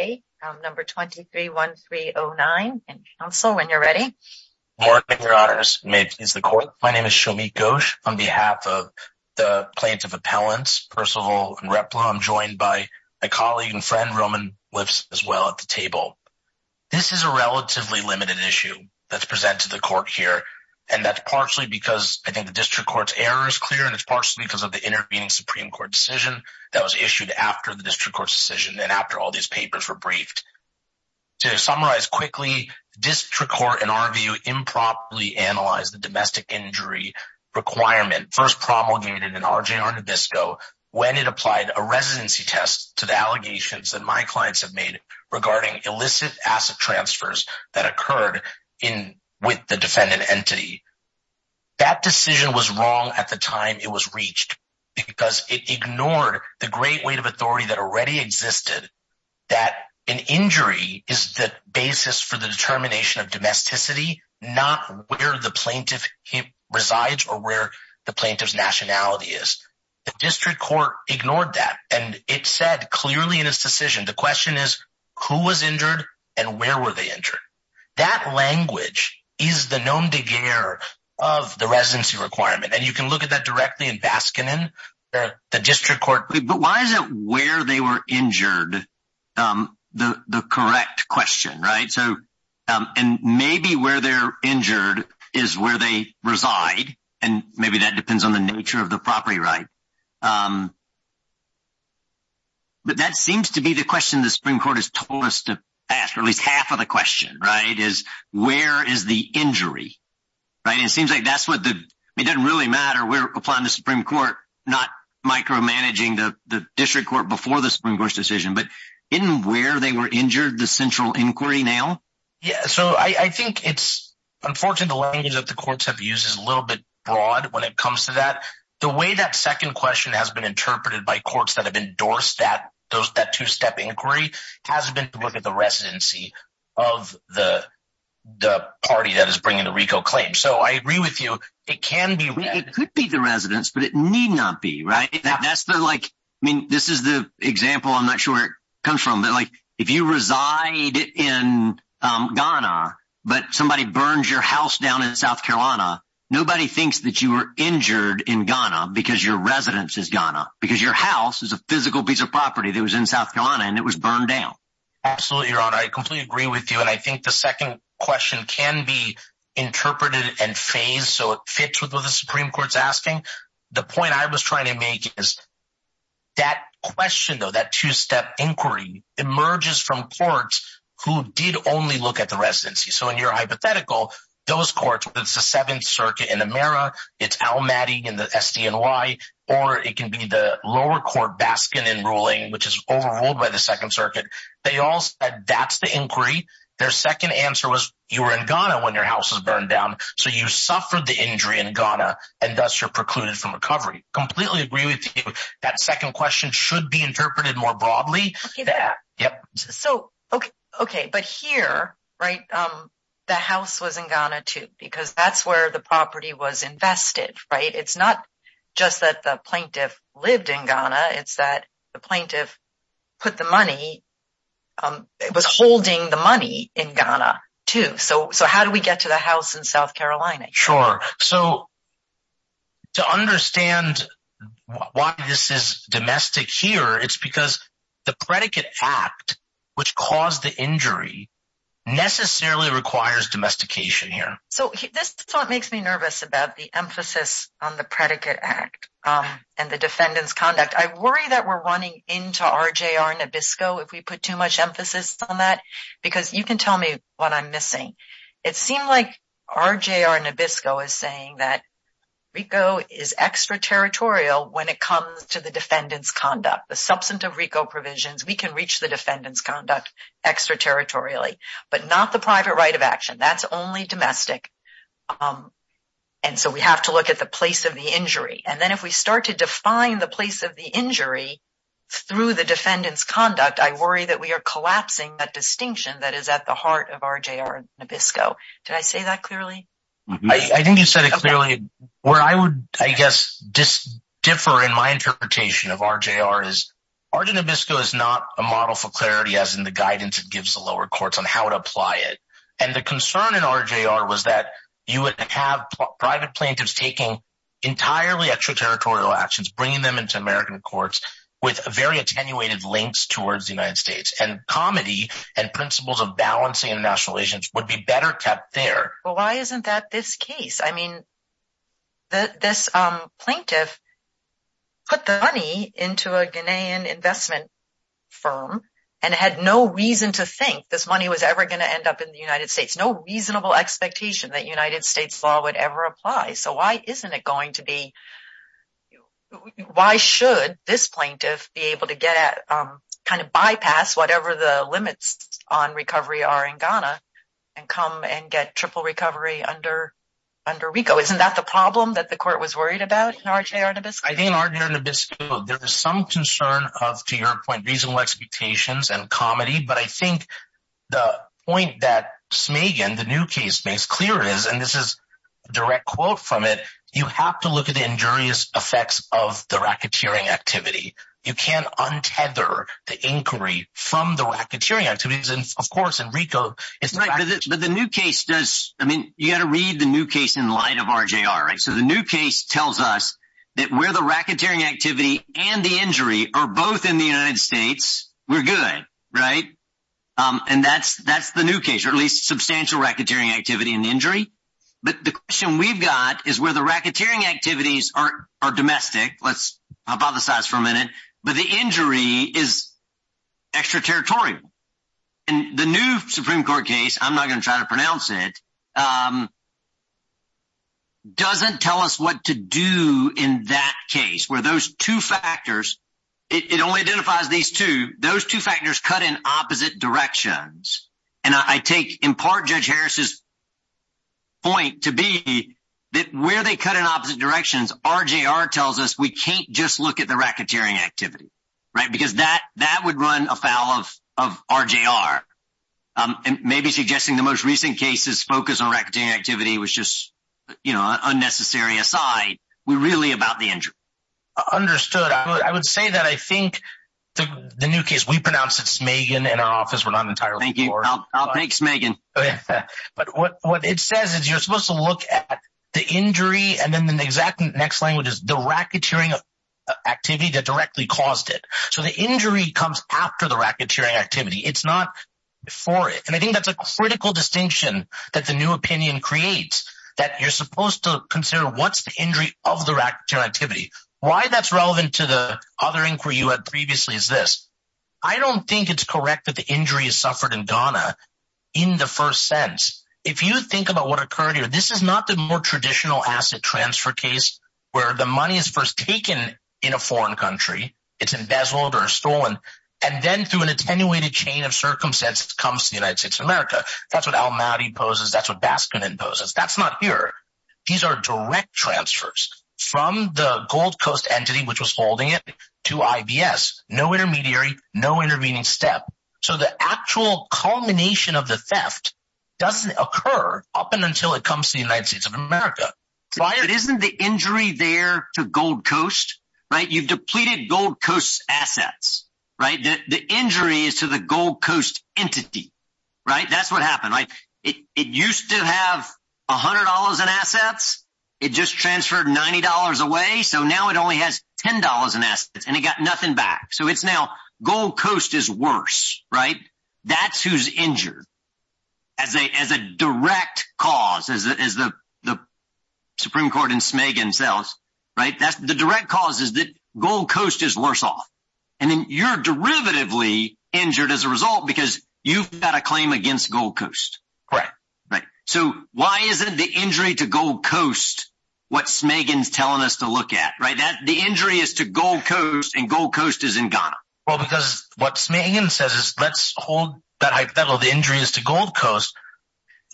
23-1309. Council, when you're ready. Good morning, Your Honours. May it please the Court. My name is Shomit Ghosh. On behalf of the Plaintiff Appellants, Percival and Repla, I'm joined by my colleague and friend Roman Lips as well at the table. This is a relatively limited issue that's presented to the Court here, and that's partially because I think the District Court's error is clear, and it's partially because of the intervening Supreme Court decision that was issued after the District Court's decision and after all these papers were briefed. To summarize quickly, District Court, in our view, improperly analyzed the domestic injury requirement first promulgated in RJR Nabisco when it applied a residency test to the allegations that my clients have made regarding illicit asset transfers that occurred with the defendant entity. That decision was wrong at the time it was reached because it ignored the great weight of authority that already existed that an injury is the basis for the determination of domesticity, not where the plaintiff resides or where the plaintiff's nationality is. The District Court ignored that, and it said clearly in its decision, the question is who was injured and where were they injured? That language is the nom-de-guerre of the residency requirement, and you can look at that directly in Baskinon. The District Court... But why is it where they were injured the correct question, right? And maybe where they're injured is where they reside, and maybe that depends on the nature of the property right. But that seems to be the question the Supreme Court has told us to ask, or at least half of the question, right, is where is the injury, right? And it seems like that's what the... It doesn't really matter. We're applying the Supreme Court, not micromanaging the District Court before the Supreme Court's decision, but isn't where they were injured the central inquiry now? Yeah, so I think it's unfortunate the language that the courts have used is a little bit that the way that second question has been interpreted by courts that have endorsed that two-step inquiry has been to look at the residency of the party that is bringing the RICO claim. So I agree with you, it can be... It could be the residence, but it need not be, right? That's the like... I mean, this is the example, I'm not sure where it comes from, but like if you reside in Ghana, but somebody burns your house down in South Carolina, nobody thinks that you were injured in Ghana because your residence is Ghana, because your house is a physical piece of property that was in South Carolina and it was burned down. Absolutely, Your Honor, I completely agree with you. And I think the second question can be interpreted and phased so it fits with what the Supreme Court's asking. The point I was trying to make is that question though, that two-step inquiry emerges from courts who did only look at the residency. So in your hypothetical, those courts, it's the Seventh Circuit in Amera, it's Al-Mahdi in the SDNY, or it can be the lower court, Baskin in ruling, which is overruled by the Second Circuit. They all said that's the inquiry. Their second answer was you were in Ghana when your house was burned down. So you suffered the injury in Ghana and thus you're precluded from recovery. Completely agree with you. That second question should be interpreted more broadly. Okay. But here, the house was in Ghana too, because that's where the property was invested. It's not just that the plaintiff lived in Ghana, it's that the plaintiff put the money, it was holding the money in Ghana too. So how do we get to the house in South Carolina? Sure. So to understand why this is domestic here, it's because the predicate act which caused the injury necessarily requires domestication here. So this is what makes me nervous about the emphasis on the predicate act and the defendant's conduct. I worry that we're running into RJR Nabisco if we put too much emphasis on that, because you can tell me what I'm missing. It seemed like RJR Nabisco is saying that RICO is extraterritorial when it comes to the defendant's conduct. The substantive RICO provisions, we can reach the defendant's conduct extraterritorially, but not the private right of action. That's only domestic. And so we have to look at the place of the injury. And then if we start to define the place of the injury through the defendant's conduct, I worry that we are collapsing that distinction that is at the heart of RJR Nabisco. Did I say that clearly? I think you said it clearly. Where I would, I guess, differ in my interpretation of RJR is RJR Nabisco is not a model for clarity as in the guidance it gives the lower courts on how to apply it. And the concern in RJR was that you would have private plaintiffs taking entirely extraterritorial actions, bringing them into American courts with very attenuated links towards the United States and comedy and principles of balancing international relations would be better kept there. Well, why isn't that this case? I mean, this plaintiff put the money into a Ghanaian investment firm and had no reason to think this money was ever going to end up in the United States. No reasonable expectation that United States law would ever apply. So why isn't bypass whatever the limits on recovery are in Ghana and come and get triple recovery under RICO? Isn't that the problem that the court was worried about in RJR Nabisco? I think in RJR Nabisco, there is some concern of, to your point, reasonable expectations and comedy. But I think the point that Smagen, the new case, makes clear is, and this is a direct quote from it, you have to look at the injurious effects of the racketeering activity. You can't tether the inquiry from the racketeering activities. And of course, in RICO. But the new case does, I mean, you got to read the new case in light of RJR, right? So the new case tells us that where the racketeering activity and the injury are both in the United States, we're good, right? And that's the new case, or at least substantial racketeering activity and injury. But the question we've got is where the racketeering activities are domestic, let's hypothesize for a minute, but the injury is extraterritorial. And the new Supreme Court case, I'm not going to try to pronounce it, doesn't tell us what to do in that case, where those two factors, it only identifies these two, those two factors cut in opposite directions. And I take in part Judge Harris's point to be that where they cut in opposite directions, RJR tells us we can't just look at the racketeering activity, right? Because that would run afoul of RJR. And maybe suggesting the most recent cases focus on racketeering activity was just, you know, unnecessary aside, we're really about the injury. Understood. I would say that I think the new case, we pronounce it Smagan in our office, we're not entirely sure. Thank you. I'll take Smagan. But what it says is you're supposed to look at the injury and then the exact next language is the racketeering activity that directly caused it. So the injury comes after the racketeering activity. It's not before it. And I think that's a critical distinction that the new opinion creates that you're supposed to consider what's the injury of the racketeering activity. Why that's relevant to the other inquiry you had previously is this. I don't think it's correct that the injury is suffered in Ghana in the first sense. If you think about what occurred here, this is not the more traditional asset transfer case where the money is first taken in a foreign country. It's embezzled or stolen. And then through an attenuated chain of circumstances comes to the United States of America. That's what Almaty poses. That's what Baskin imposes. That's not here. These are direct transfers from the Gold Coast entity, which was holding it to IBS. No intermediary, no intervening step. So the actual culmination of the theft doesn't occur up until it comes to the United States of America. But isn't the injury there to Gold Coast, right? You've depleted Gold Coast assets, right? The injury is to the Gold Coast entity, right? That's what happened. It used to have $100 in assets. It just transferred $90 away. So now it only has $10 in assets and it got nothing back. So it's now Gold Coast is worse, right? That's who's injured. As a direct cause, as the Supreme Court in Smegin sells, right? The direct cause is that Gold Coast is worse off. And then you're derivatively injured as a result because you've got a claim against Gold Coast. So why isn't the injury to Gold Coast what Smegin's telling us to look at, right? The injury is to Gold Coast and Gold Coast is in Ghana. Well, because what Smegin says is let's hold that hypothetical. The injury is to Gold Coast.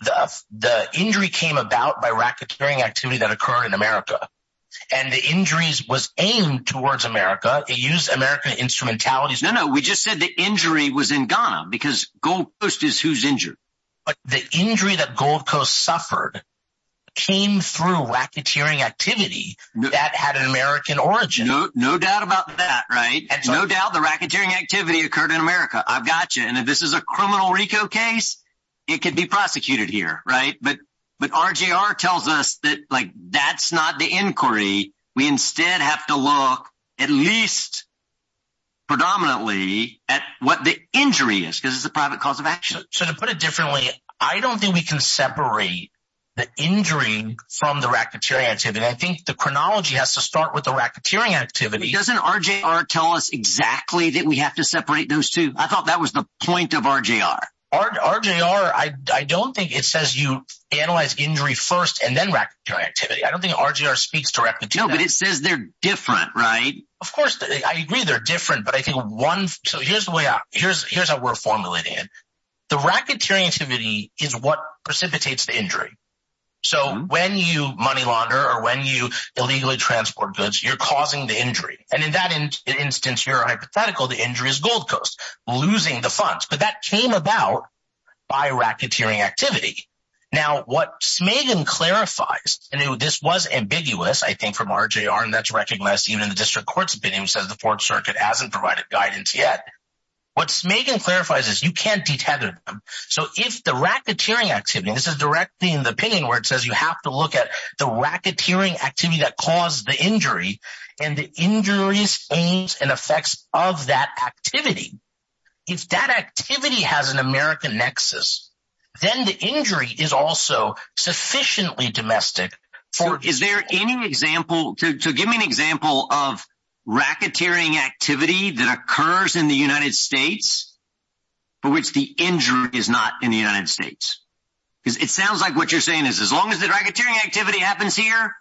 The injury came about by racketeering activity that occurred in America. And the injuries was aimed towards America. It used American instrumentalities. No, no. We just said the injury was in Ghana because Gold Coast is who's injured. But the injury that Gold Coast suffered came through racketeering activity that had an American origin. No doubt about that, right? And no doubt the racketeering activity occurred in America. I've got you. And if this is a criminal RICO case, it could be prosecuted here, right? But RGR tells us that that's not the inquiry. We instead have to look at least predominantly at what the injury is because it's a private cause of action. So to put it differently, I don't think we can separate the injury from the racketeering activity. I think the chronology has to start with the racketeering activity. Doesn't RGR tell us exactly that we have to separate those two? I thought that was the point of RGR. RGR, I don't think it says you analyze injury first and then racketeering activity. I don't think RGR speaks directly to that. No, but it says they're different, right? Of course. I agree they're different, but I think one... So here's the way out. Here's how we're formulating it. The racketeering activity is what precipitates the injury. So when you money launder or when you illegally transport goods, you're causing the injury. And in that instance, your hypothetical, the injury is Gold Coast, losing the funds. But that came about by racketeering activity. Now, what Smagen clarifies, and this was ambiguous, I think, from RGR, and that's recognized even in the district court's opinion, who says the Fourth Circuit hasn't provided guidance yet. What Smagen clarifies is you can't detether them. So if the racketeering activity, this is directly in the opinion where it says you have to look at the racketeering activity that caused the injury and the injuries, pains, and effects of that activity. If that activity has an American nexus, then the injury is also sufficiently domestic for... Is there any example... So give me an example of racketeering activity that occurs in the United States for which the injury is not in the United States. Because it sounds like what you're saying is as long as the racketeering activity happens here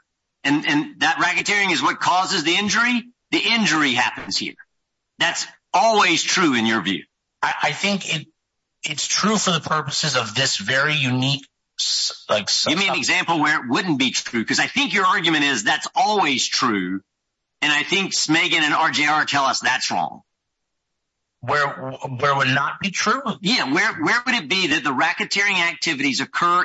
and that racketeering is what causes the injury, the injury happens here. That's always true in your view. I think it's true for the purposes of this very unique... Give me an example where it wouldn't be true, because I think your argument is that's always true, and I think Smagen and RGR tell us that's wrong. Where it would not be true? Yeah. Where would it be that the racketeering activities occur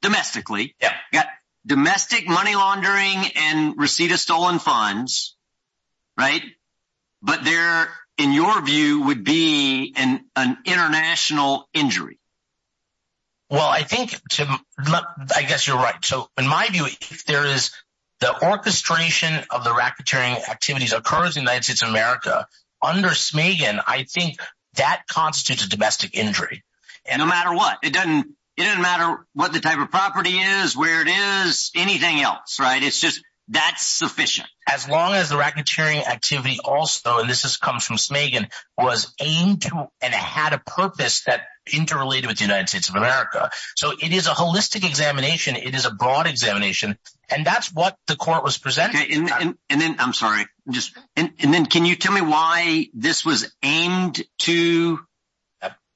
domestically, got domestic money laundering and receipt of stolen funds, right? But there, in your view, would be an international injury. Well, I think, Tim, I guess you're right. So in my view, if there is the orchestration of the racketeering activities occurs in the United States of America, under Smagen, I think that constitutes a domestic injury. No matter what. It doesn't matter what the type of property is, where it is, anything else, right? It's just that's sufficient. As long as the racketeering also, and this comes from Smagen, was aimed to and had a purpose that interrelated with the United States of America. So it is a holistic examination. It is a broad examination. And that's what the court was presenting. I'm sorry. And then can you tell me why this was aimed to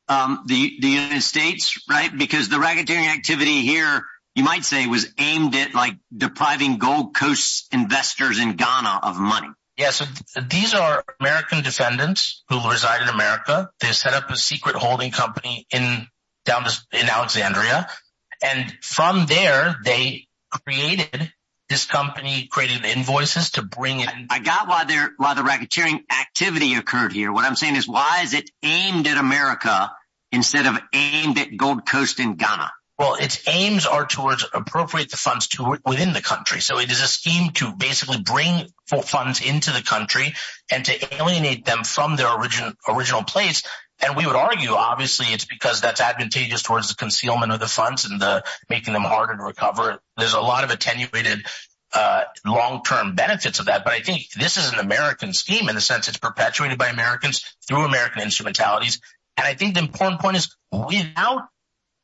the United States, right? Because the racketeering activity here, you might say, was aimed at depriving Gold Coast investors in Ghana of money. Yes. These are American defendants who reside in America. They set up a secret holding company in down in Alexandria. And from there, they created this company created invoices to bring in. I got why they're why the racketeering activity occurred here. What I'm saying is why is it aimed at America instead of aimed at Gold Coast in Ghana? Well, its aims are towards appropriate the funds to within the country. So it is a scheme to basically bring full funds into the country and to alienate them from their original place. And we would argue, obviously, it's because that's advantageous towards the concealment of the funds and the making them harder to recover. There's a lot of attenuated long term benefits of that. But I think this is an American scheme in the sense it's perpetuated by Americans through American instrumentalities. And I think the important point is without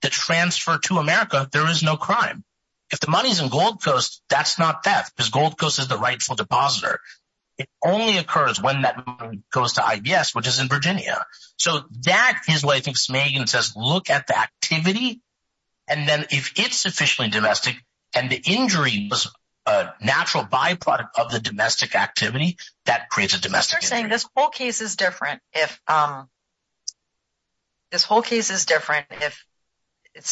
the transfer to America, there is no crime. If the money's in Gold Coast, that's not theft because Gold Coast is the rightful depositor. It only occurs when that goes to IBS, which is in Virginia. So that is what I think Smagen says. Look at the activity. And then if it's officially domestic and the injury was a natural byproduct of the domestic activity that creates a domestic. You're saying this whole case is different if it's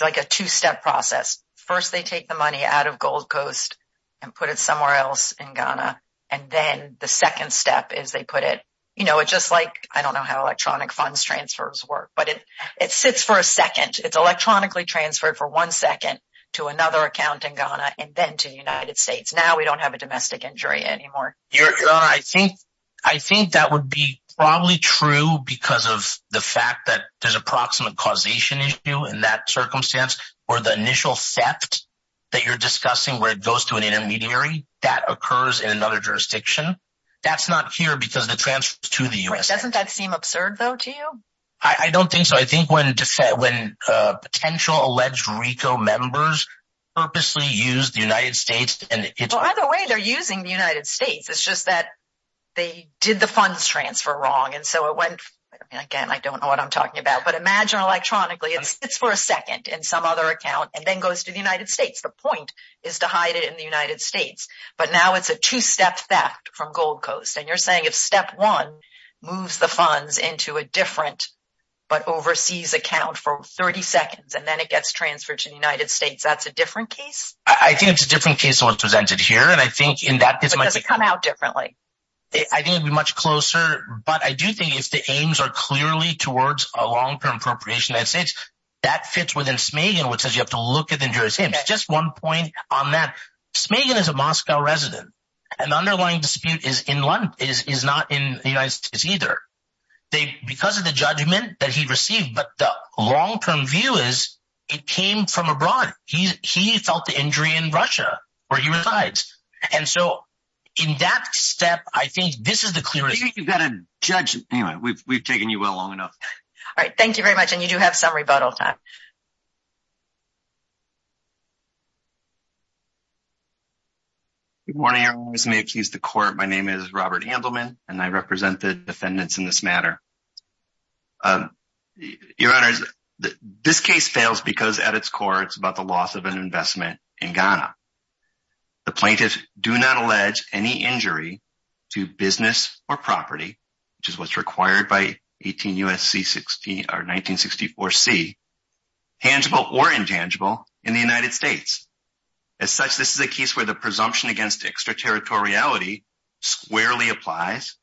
like a two step process. First, they take the money out of Gold Coast and put it somewhere else in Ghana. And then the second step is they put it, you know, it just like I don't know how electronic funds transfers work, but it it sits for a second. It's electronically transferred for one second to another account in Ghana and then to the United States. Now we don't have a domestic injury anymore. I think I think that would be probably true because of the fact that there's approximate causation issue in that circumstance or the initial theft that you're discussing where it goes to an intermediary that occurs in another jurisdiction. That's not here because the transfer to the U.S. doesn't seem absurd, though, to you. I don't think so. I think when when potential alleged RICO members purposely use the United States and it's either way, they're using the United States. It's just that they did the funds transfer wrong. And so it went again. I don't know what I'm talking about, but imagine electronically it's for a second in some other account and then goes to the United States. The point is to hide it in the United States. But now it's a two step theft from Gold Coast. And you're saying if step one moves the funds into a different but overseas account for 30 seconds and then it gets transferred to the United States, that's a different case. I think it's a different case than what's presented here. And I think in that case, it might come out differently. I think it'd be much closer. But I do think if the aims are clearly towards a long term appropriation, that's it. That fits within Smagen, which says you have to look at the jurors. Just one point on that. Smagen is a Moscow resident. An underlying dispute is in London, is not in the United States either. They because of the judgment that he received. But the long term view is it came from abroad. He felt the injury in Russia, where he resides. And so in that step, I think this is the clear. I think you've got to judge. Anyway, we've taken you well long enough. All right. Thank you very much. And you do have some rebuttal time. Good morning, everyone listening to the court. My name is Robert Handelman, and I represent the defendants in this matter. Your Honor, this case fails because at its core, it's about the loss of an investment in Ghana. The plaintiffs do not allege any injury to business or property, which is what's required by 18 U.S.C. 60 or 1964 C, tangible or intangible in the United States. As such, this is a case where the presumption against extraterritoriality squarely applies.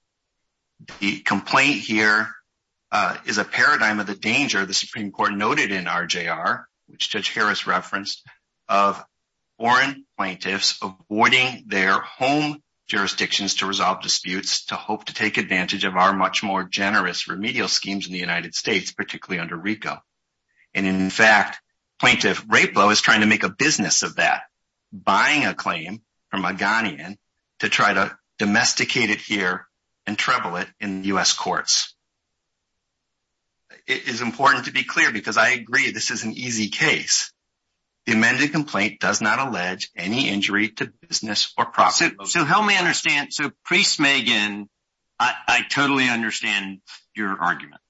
The is a paradigm of the danger the Supreme Court noted in R.J.R., which Judge Harris referenced, of foreign plaintiffs avoiding their home jurisdictions to resolve disputes, to hope to take advantage of our much more generous remedial schemes in the United States, particularly under Rico. And in fact, plaintiff Rapo is trying to make a business of that, buying a claim from a Ghanaian to try to domesticate it here and travel it in U.S. courts. It is important to be clear, because I agree this is an easy case. The amended complaint does not allege any injury to business or property. So help me understand. So pre-Smagan, I totally understand your argument.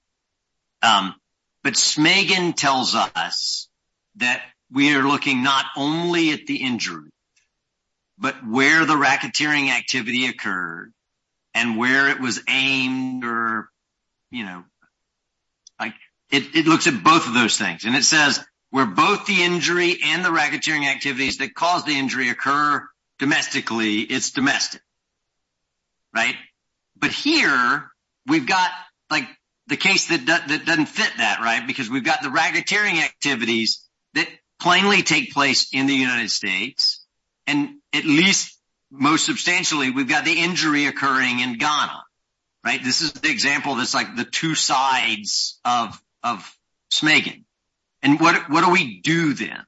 But Smagan tells us that we are looking not only at the injury, but where the racketeering activity occurred and where it was aimed or, you know, like it looks at both of those things. And it says where both the injury and the racketeering activities that caused the injury occur domestically, it's domestic. Right. But here we've got like the case that doesn't fit that right, because we've got the and at least most substantially, we've got the injury occurring in Ghana. Right. This is the example that's like the two sides of of Smagan. And what do we do then?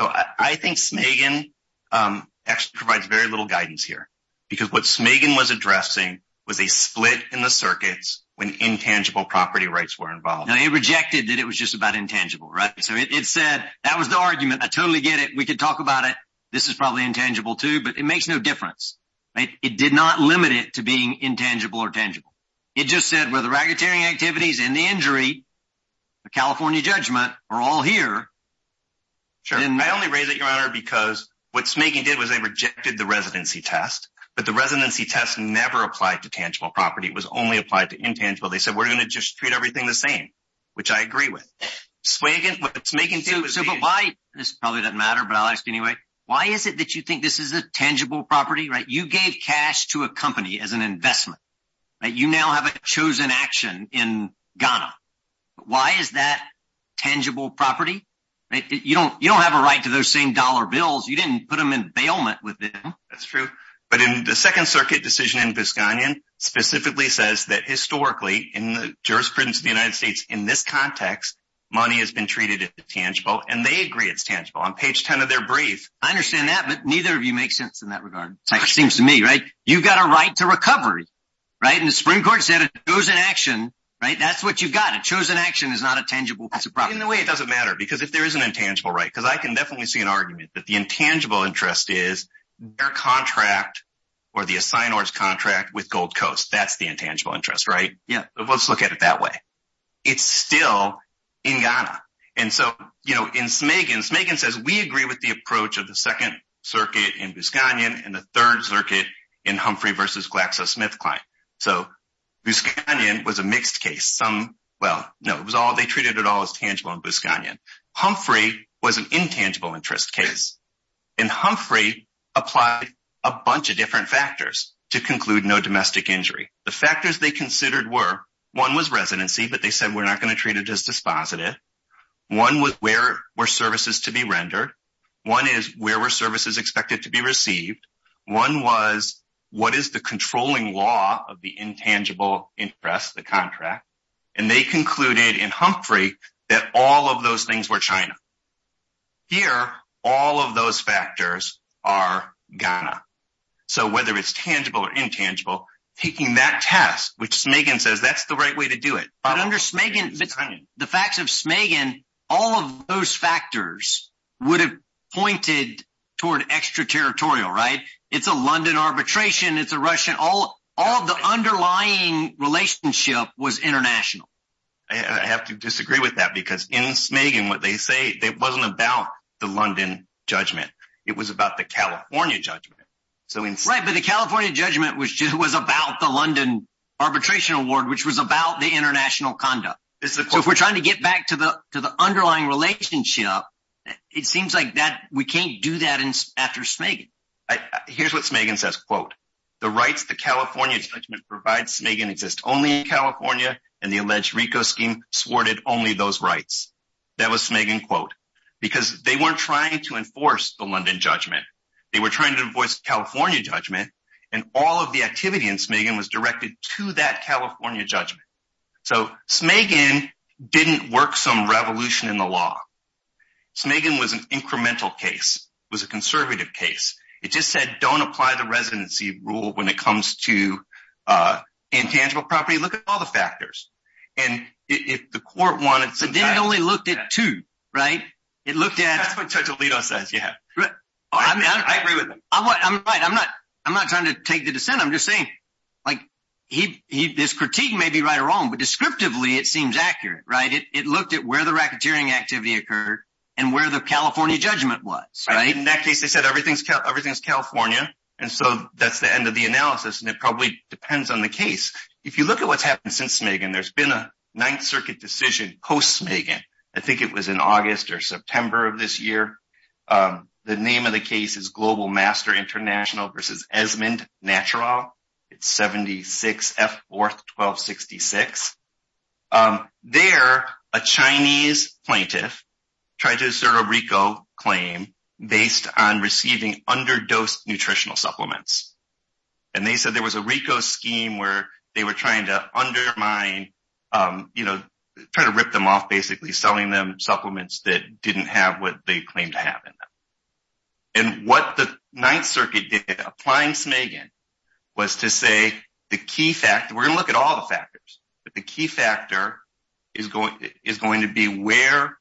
So I think Smagan actually provides very little guidance here, because what Smagan was addressing was a split in the circuits when intangible property rights were involved. They rejected that it was just about intangible. Right. So it said that was the argument. I probably intangible, too, but it makes no difference. It did not limit it to being intangible or tangible. It just said where the racketeering activities and the injury, the California judgment are all here. Sure. And I only raise it, Your Honor, because what Smagan did was they rejected the residency test. But the residency test never applied to tangible property. It was only applied to intangible. They said we're going to just treat everything the same, which I agree with. Smagan, what Smagan did was... So why? This probably doesn't matter, but I'll ask anyway. Why is it that you think this is a tangible property? You gave cash to a company as an investment. You now have a chosen action in Ghana. Why is that tangible property? You don't have a right to those same dollar bills. You didn't put them in bailment with them. That's true. But in the Second Circuit decision in Visconian specifically says that historically in the jurisprudence of the United States, in this context, money has been treated as tangible. On page 10 of their brief... I understand that, but neither of you make sense in that regard. It seems to me, right? You've got a right to recovery, right? And the Supreme Court said it goes in action, right? That's what you've got. A chosen action is not a tangible piece of property. In a way, it doesn't matter because if there is an intangible right, because I can definitely see an argument that the intangible interest is their contract or the assignors contract with Gold Coast. That's the intangible interest, right? Let's look at it that way. It's still in Ghana. And so, in Smagan, Smagan says, we agree with the approach of the Second Circuit in Visconian and the Third Circuit in Humphrey versus GlaxoSmithKline. So, Visconian was a mixed case. Well, no, they treated it all as tangible in Visconian. Humphrey was an intangible interest case. And Humphrey applied a bunch of different factors to conclude no domestic injury. The factors they considered were, one was residency, but they said we're not going to treat it as dispositive. One was where were services to be rendered. One is where were services expected to be received. One was what is the controlling law of the intangible interest, the contract. And they concluded in Humphrey that all of those things were China. Here, all of those factors are Ghana. So, whether it's tangible or intangible, taking that test, which Smagan says that's the right way to do it. But under Smagan, the facts of Smagan, all of those factors would have pointed toward extraterritorial, right? It's a London arbitration. It's a Russian. All of the underlying relationship was international. I have to disagree with that because in Smagan, it wasn't about the London judgment. It was about the California judgment. Right, but the California judgment was about the London arbitration award, which was about the international conduct. So, if we're trying to get back to the underlying relationship, it seems like we can't do that after Smagan. Here's what Smagan says, quote, the rights to California judgment provides Smagan exists only in California and the Smagan quote, because they weren't trying to enforce the London judgment. They were trying to voice California judgment. And all of the activity in Smagan was directed to that California judgment. So, Smagan didn't work some revolution in the law. Smagan was an incremental case, was a conservative case. It just said, don't apply the residency rule when it comes to intangible property. Look at all the factors. And if the court wanted, they only looked at two, right? It looked at. I agree with him. I'm not trying to take the dissent. I'm just saying like he this critique may be right or wrong, but descriptively, it seems accurate, right? It looked at where the racketeering activity occurred and where the California judgment was. In that case, they said everything's everything's California. And so that's the end of the analysis. And it probably depends on the case. If you look at what's happened since Smagan, there's been a Ninth Circuit decision post-Smagan. I think it was in August or September of this year. The name of the case is Global Master International versus Esmond Natural. It's 76 F 4th 1266. There, a Chinese plaintiff tried to assert a RICO claim based on receiving underdosed nutritional supplements. And they said there was a RICO scheme where they were trying to undermine, you know, try to rip them off basically selling them supplements that didn't have what they claimed to have in them. And what the Ninth Circuit did applying Smagan was to say the key factor, we're going to look at all the factors, but the key factor is going to be where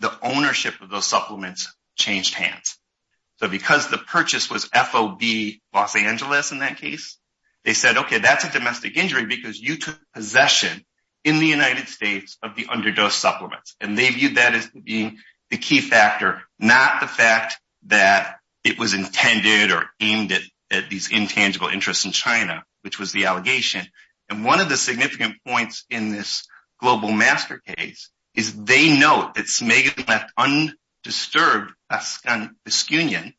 the ownership of those supplements changed hands. So because the purchase was FOB Los Angeles in that case, they said, okay, that's a domestic injury because you took possession in the United States of the underdose supplements. And they viewed that as being the key factor, not the fact that it was intended or aimed at these intangible interests in China, which was the allegation. And one of the significant points in this Global Master case is they note that Smagan left undisturbed Baskinian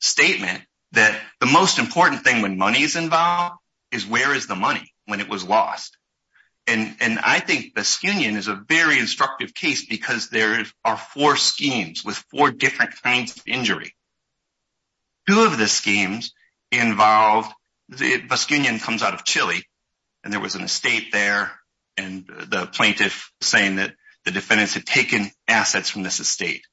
statement that the most important thing when money is involved is where is the money when it was lost. And I think Baskinian is a very instructive case because there are four schemes with four different kinds of injury. Two of the schemes involved, Baskinian comes out of Chile and there was an estate there and the plaintiff saying that the defendants had taken assets from this estate.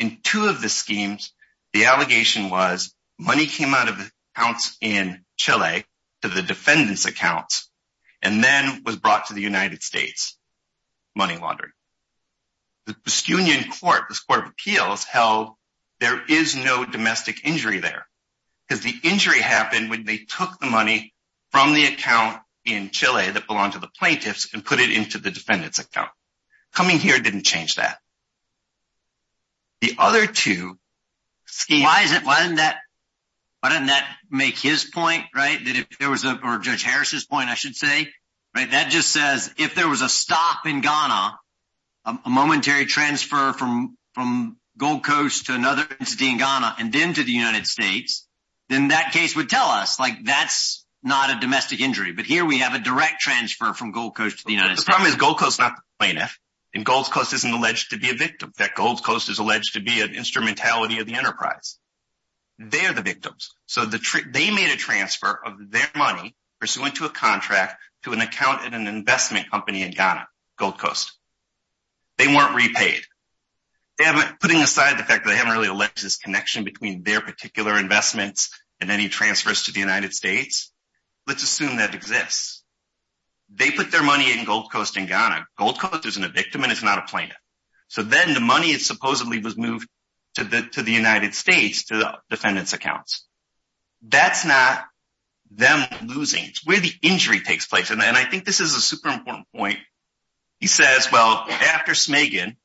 In two of the schemes, the allegation was money came out of the accounts in Chile to the defendants accounts and then was brought to the United States, money laundering. The Baskinian court, this court of appeals held there is no domestic injury there because the injury happened when they took the money from the account in Chile that belonged to the plaintiffs and put it into the defendant's account. Coming here didn't change that. The other two schemes- Why is it, why didn't that, why didn't that make his point, right? That if there was a, or Judge Harris's point, I should say, right? That just says if there was a stop in Ghana, a momentary transfer from Gold Coast to another entity in Ghana and then to the United States, then that case would tell us like that's not a domestic injury. But here we have a direct transfer from Gold Coast to the United States. The problem is Gold Coast is not the plaintiff and Gold Coast isn't alleged to be a victim. That Gold Coast is alleged to be an instrumentality of the enterprise. They are the victims. So they made a transfer of their money pursuant to a contract to an account in an investment company in Ghana, Gold Coast. They weren't repaid. They haven't, putting aside the fact that they haven't really alleged this connection between their particular investments and any transfers to the United States, let's assume that exists. They put their money in Gold Coast in Ghana. Gold Coast isn't a victim and it's not a plaintiff. So then the money is supposedly was moved to the United States to the defendant's accounts. That's not them losing. It's where the injury takes place. And I think this is a super important point. He says, well, after Smiggen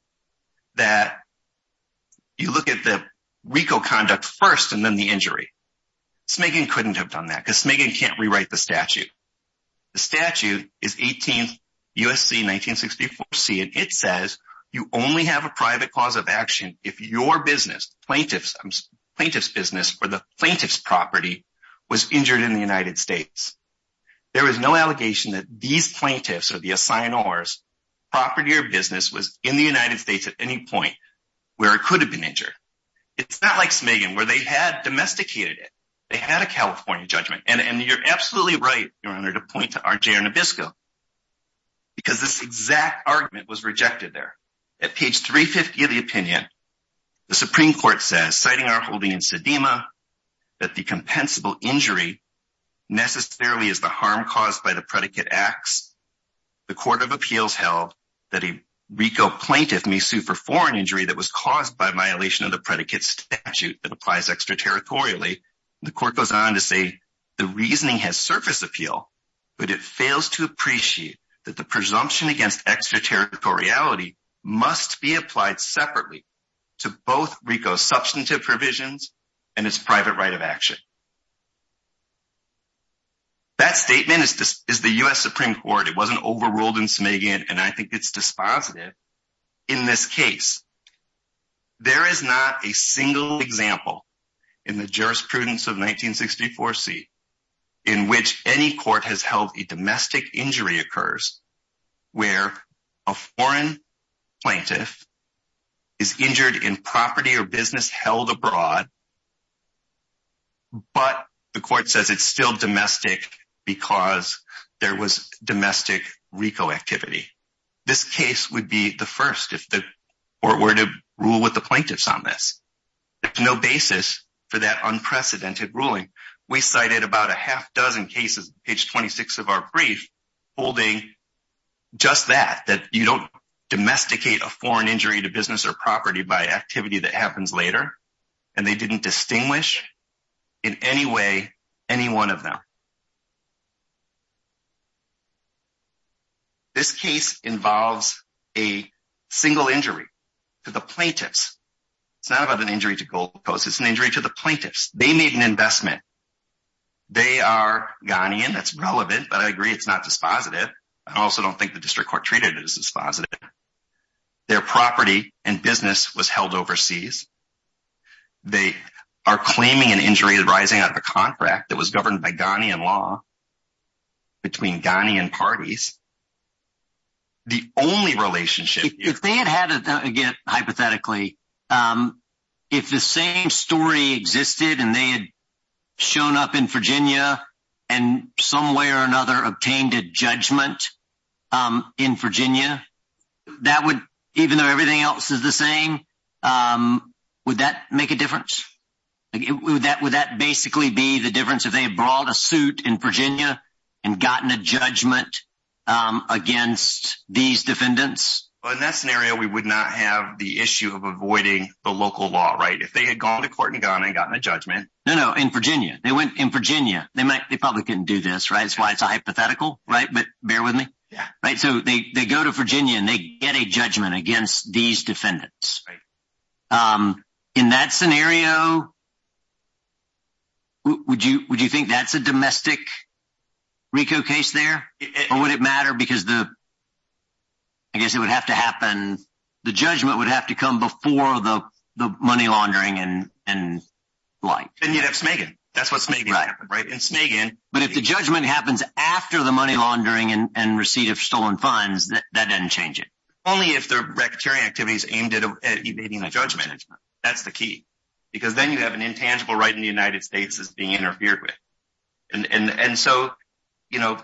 that you look at the RICO conduct first and then the injury. Smiggen couldn't have done that because Smiggen can't rewrite the statute. The statute is 18th USC 1964C and it says you only have a private cause of action if your plaintiff's business or the plaintiff's property was injured in the United States. There is no allegation that these plaintiffs or the assignors property or business was in the United States at any point where it could have been injured. It's not like Smiggen where they had domesticated it. They had a California judgment. And you're absolutely right, your honor, to point to RJ Arnabisco because this exact argument was rejected there. At page 350 of the opinion, the Supreme Court says, citing our holding in Sedema, that the compensable injury necessarily is the harm caused by the predicate acts. The court of appeals held that a RICO plaintiff may sue for foreign injury that was caused by violation of the predicate statute that applies extraterritorially. The court goes on to say the reasoning has surface appeal, but it fails to appreciate that the presumption against extraterritoriality must be applied separately to both RICO's substantive provisions and its private right of action. That statement is the U.S. Supreme Court. It wasn't overruled in Smiggen, and I think it's dispositive in this case. There is not a single example in the jurisprudence of a foreign plaintiff is injured in property or business held abroad, but the court says it's still domestic because there was domestic RICO activity. This case would be the first if the court were to rule with the plaintiffs on this. There's no basis for that unprecedented ruling. We cited about a half dozen cases, page 26 of our brief, holding just that, that you don't domesticate a foreign injury to business or property by activity that happens later, and they didn't distinguish in any way any one of them. This case involves a single injury to the plaintiffs. It's not about an injury to Gold Coast. It's an injury to the plaintiffs. They made an investment. They are Ghanian. That's relevant, but I agree it's not dispositive. I also don't think the district court treated it as dispositive. Their property and business was held overseas. They are claiming an injury arising out of a contract that was governed by Ghanian law between Ghanian parties. The only relationship... If they had had, again, hypothetically, if the same story existed and they had up in Virginia and some way or another obtained a judgment in Virginia, even though everything else is the same, would that make a difference? Would that basically be the difference if they had brought a suit in Virginia and gotten a judgment against these defendants? In that scenario, we would not have the issue of avoiding the local law, right? If they had gone to court in Ghana and gotten a judgment. No, no, in Virginia. They went in Virginia. They probably couldn't do this, right? That's why it's a hypothetical, right? But bear with me. So they go to Virginia and they get a judgment against these defendants. In that scenario, would you think that's a domestic RICO case there? Or would it matter because I guess it would have to happen, the judgment would have to come before the money laundering and like. And you'd have Smagan. That's what Smagan happened, right? And Smagan... But if the judgment happens after the money laundering and receipt of stolen funds, that doesn't change it. Only if the rectory activities aimed at evading the judgment. That's the key. Because then you have an intangible right in the United States that's being interfered with. And so, you know,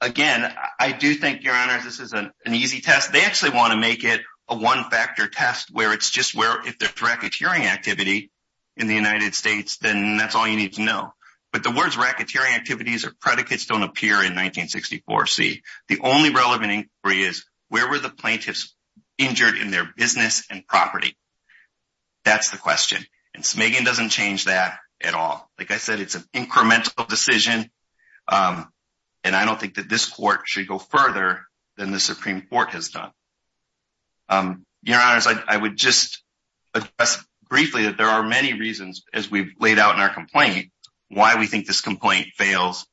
again, I do think, Your Honor, this is an easy test. They actually want to make it a one-factor test where it's just where if there's racketeering activity in the United States, then that's all you need to know. But the words racketeering activities or predicates don't appear in 1964C. The only relevant inquiry is where were the plaintiffs injured in their business and property. That's the question. And Smagan doesn't change that at all. Like I said, it's an incremental decision. And I don't think that this court should go further than the Supreme Court has done. Your Honors, I would just address briefly that there are many reasons as we've laid out in our complaint, why we think this complaint fails.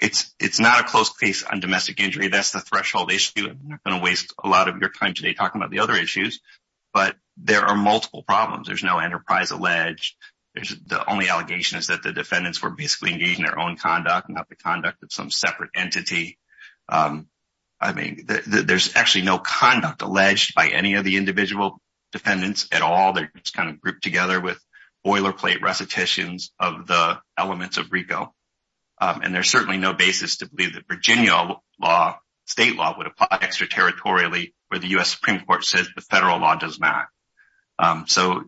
It's not a close case on domestic injury. That's the threshold issue. I'm not going to waste a lot of your time today talking about the other issues, but there are multiple problems. There's no enterprise alleged. The only allegation is that the defendants were basically engaged in their own conduct and not the conduct of some separate entity. I mean, there's actually no conduct alleged by any of the individual defendants at all. They're just kind of grouped together with boilerplate recitations of the elements of RICO. And there's certainly no basis to believe that Virginia state law would apply extraterritorially where the U.S. Supreme Court says the federal law does not. So,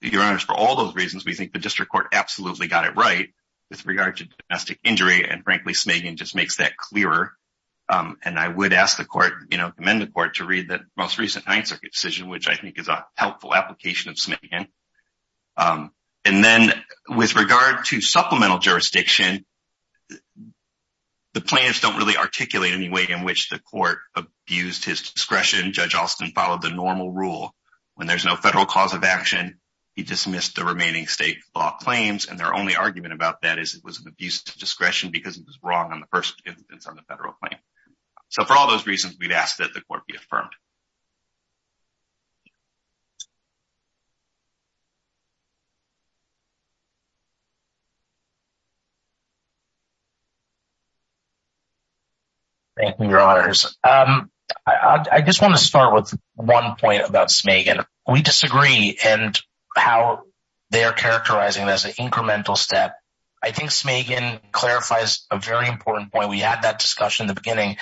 Your Honors, for all those reasons, we think the district court absolutely got it right with regard to domestic injury. And frankly, Smagan just makes that clearer. And I would ask the court, commend the court, to read the most recent Ninth Circuit decision, which I think is a helpful application of Smagan. And then with regard to supplemental jurisdiction, the plaintiffs don't really articulate any way in which the court abused his discretion. Judge Alston followed the normal rule. When there's no federal cause of action, he dismissed the remaining state law claims. And their only argument about that is it was an abuse of discretion because it was wrong on the first instance on the federal claim. So, for all those reasons, we'd ask that the court be affirmed. Thank you, Your Honors. I just want to start with one point about Smagan. We disagree in how they are characterizing as an incremental step. I think Smagan clarifies a very important point. We had that discussion in the beginning,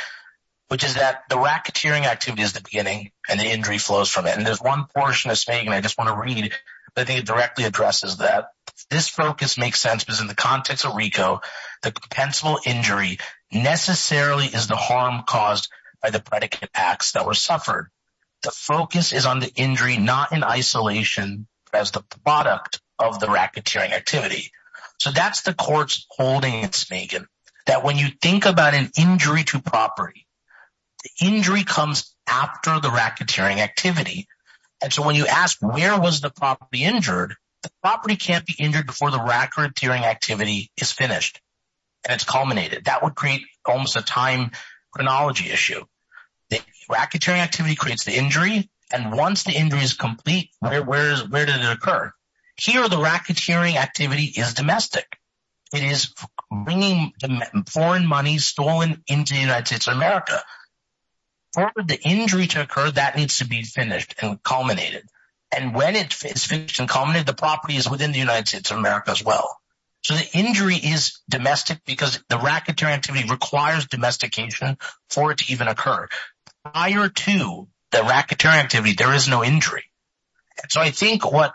which is that the racketeering activity is the beginning and the injury flows from it. And there's one portion of Smagan I just want to read that directly addresses that. This focus makes sense because in the context of RICO, the compensable injury necessarily is the harm caused by the predicate acts that were suffered. The focus is on the injury, not in isolation as the product of the racketeering activity. So that's the court's holding in Smagan, that when you think about an injury to property, the injury comes after the racketeering activity. And so when you ask where was the property injured, the property can't be injured before the racketeering activity is finished and it's culminated. That would create almost a time chronology issue. The racketeering activity creates the injury. And once the injury is complete, where does it occur? Here, the racketeering activity is domestic. It is bringing foreign money stolen into the United States of America. For the injury to occur, that needs to be finished and culminated. And when it is finished and culminated, the property is within the United States of America as well. So the injury is domestic because the racketeering activity requires domestication for it to even occur. Prior to the racketeering activity, there is no injury. And so I think what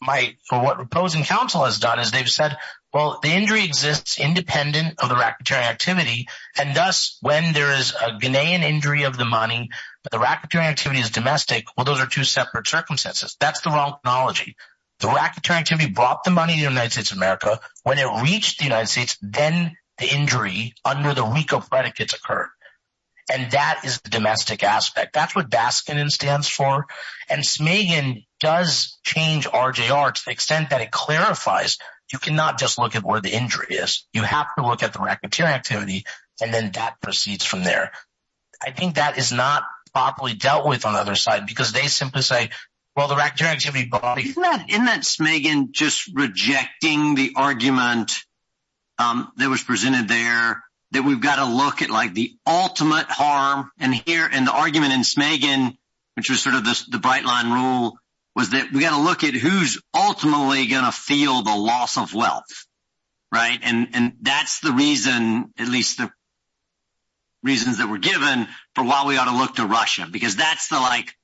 my opposing counsel has done is they've said, well, the injury exists independent of the racketeering activity. And thus, when there is a Ghanaian injury of the money, but the racketeering activity is domestic, well, those are two separate circumstances. That's the wrong chronology. The racketeering activity brought the money to the United States of America. When it reached the United States, then the injury under the RICO predicates occurred. And that is the domestic aspect. That's what Baskin stands for. And Smagan does change RJR to the extent that it clarifies you cannot just look at where the injury is. You have to look at the racketeering activity, and then that proceeds from there. I think that is not properly dealt with on the other side, because they simply say, well, the racketeering activity brought the money. Isn't that Smagan just rejecting the argument that was presented there that we've got to look at like the ultimate harm in here and the argument in Smagan, which was sort of the loss of wealth, right? And that's the reason, at least the reasons that were given for why we ought to look to Russia, because that's the like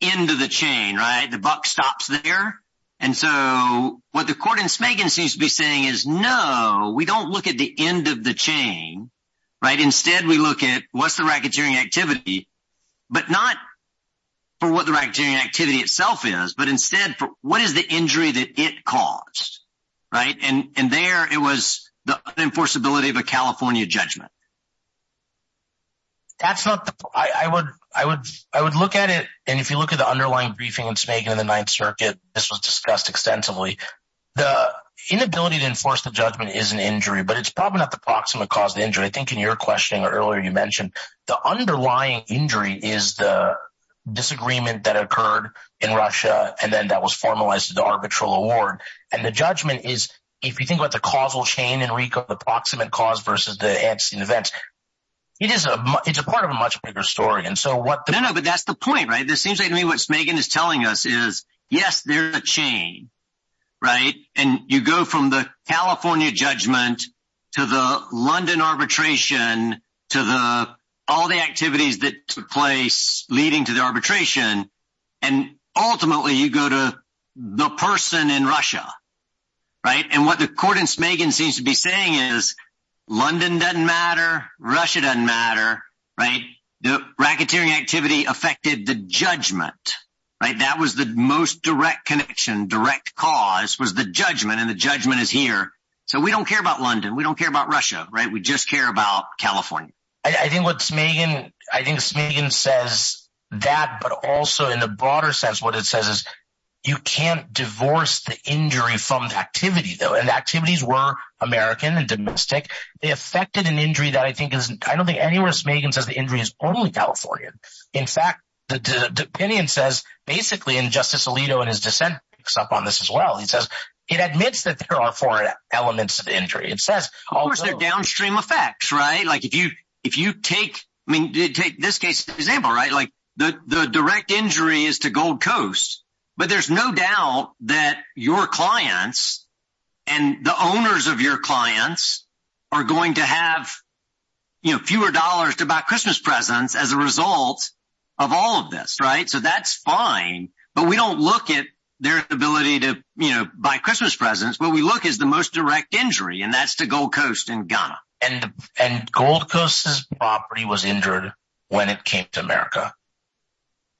end of the chain, right? The buck stops there. And so what the court in Smagan seems to be saying is, no, we don't look at the end of the chain, right? Instead, we look at what's the racketeering activity, but not for what the racketeering activity itself is, but instead for what is the injury that it caused, right? And there, it was the unenforceability of a California judgment. I would look at it, and if you look at the underlying briefing in Smagan in the Ninth Circuit, this was discussed extensively. The inability to enforce the judgment is an injury, but it's probably not the proximate cause of the injury. I think in your questioning earlier, you mentioned the underlying injury is the in Russia, and then that was formalized as the arbitral award. And the judgment is, if you think about the causal chain, Enrico, the proximate cause versus the antecedent events, it's a part of a much bigger story. And so what- No, no, but that's the point, right? This seems like to me what Smagan is telling us is, yes, there's a chain, right? And you go from the California judgment to the London arbitration, to all the activities that took place leading to the arbitration, and ultimately you go to the person in Russia, right? And what the court in Smagan seems to be saying is, London doesn't matter, Russia doesn't matter, right? The racketeering activity affected the judgment, right? That was the most direct connection, direct cause was the judgment, and the judgment is here. So we don't care about London. We don't care about Russia, right? We just care about California. I think what Smagan, I think Smagan says that, but also in the broader sense, what it says is, you can't divorce the injury from the activity though. And the activities were American and domestic. They affected an injury that I think is, I don't think anywhere Smagan says the injury is only California. In fact, the opinion says, basically, and Justice Alito and his dissent picks up on this as well. He says, it admits that there are foreign elements of injury. It says- Of course there are downstream effects, right? If you take, I mean, take this case example, right? The direct injury is to Gold Coast, but there's no doubt that your clients and the owners of your clients are going to have fewer dollars to buy Christmas presents as a result of all of this, right? So that's fine, but we don't look at their ability to buy Christmas presents. What we look at is the most direct injury and that's the Gold Coast in Ghana. And Gold Coast's property was injured when it came to America.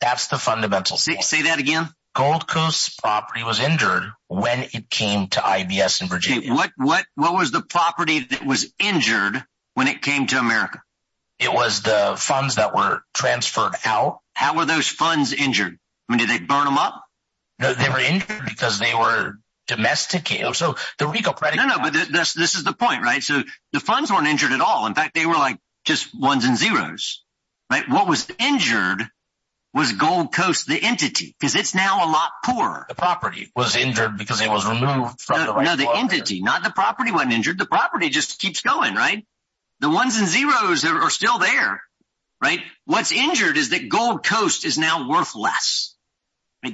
That's the fundamental- Say that again? Gold Coast's property was injured when it came to IBS in Virginia. What was the property that was injured when it came to America? It was the funds that were transferred out. How were those funds injured? I mean, did they burn up? They were injured because they were domesticated. No, no, but this is the point, right? So the funds weren't injured at all. In fact, they were like just ones and zeros, right? What was injured was Gold Coast, the entity, because it's now a lot poorer. The property was injured because it was removed from the- No, the entity, not the property wasn't injured. The property just keeps going, right? The ones and zeros are still there, right? What's injured is that Gold Coast is now worth less.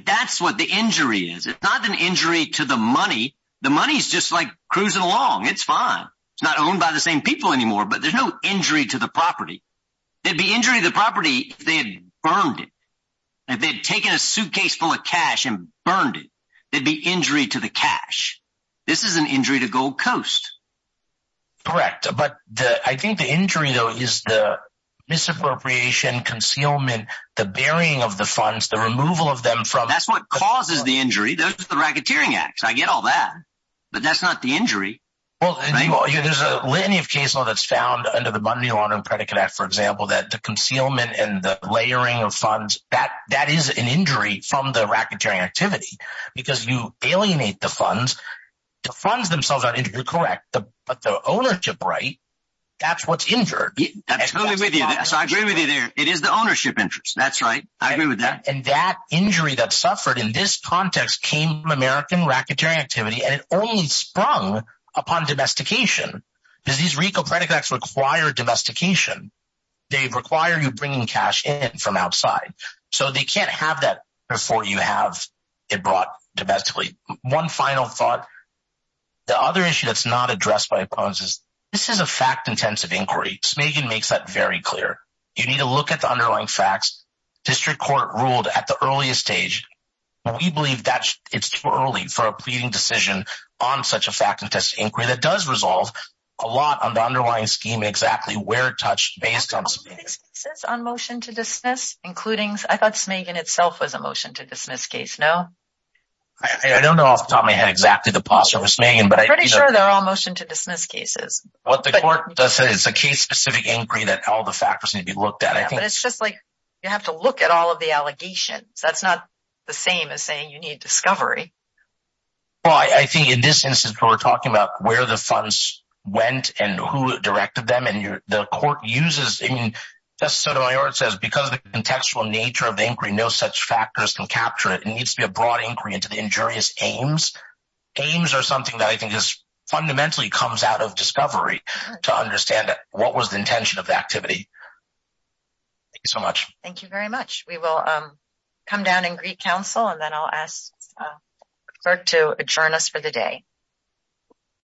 That's what the injury is. It's not an injury to the money. The money's just like cruising along. It's fine. It's not owned by the same people anymore, but there's no injury to the property. There'd be injury to the property if they had burned it. If they'd taken a suitcase full of cash and burned it, there'd be injury to the cash. This is an injury to Gold Coast. Correct. But I think the injury, though, is the misappropriation, concealment, the burying of the funds, the removal of them from- That's what causes the injury. Those are the racketeering acts. I get all that, but that's not the injury, right? Well, there's a lenient case law that's found under the Bundy Laundering Predicate Act, for example, that the concealment and the layering of funds, that is an injury from the racketeering activity because you alienate the So I agree with you there. It is the ownership interest. That's right. I agree with that. And that injury that suffered in this context came from American racketeering activity, and it only sprung upon domestication. Because these RICO Predicates require domestication. They require you bringing cash in from outside. So they can't have that before you have it brought domestically. One final thought. The other issue that's not addressed by opponents is this is a fact-intensive inquiry. Smagan makes that very clear. You need to look at the underlying facts. District Court ruled at the earliest stage. We believe that it's too early for a pleading decision on such a fact-intensive inquiry that does resolve a lot on the underlying scheme and exactly where it touched based on- Are there other cases on motion to dismiss, including- I thought Smagan itself was a motion to dismiss case, no? I don't know off the top of my head the posthumous name. I'm pretty sure they're all motion to dismiss cases. What the court does say is it's a case-specific inquiry that all the factors need to be looked at. But it's just like you have to look at all of the allegations. That's not the same as saying you need discovery. Well, I think in this instance, we're talking about where the funds went and who directed them. And the court uses- I mean, just as Sotomayor says, because of the contextual nature of the inquiry, no such factors can capture it. It needs to be a aims or something that I think is fundamentally comes out of discovery to understand what was the intention of the activity. Thank you so much. Thank you very much. We will come down and greet counsel, and then I'll ask the clerk to adjourn us for the day.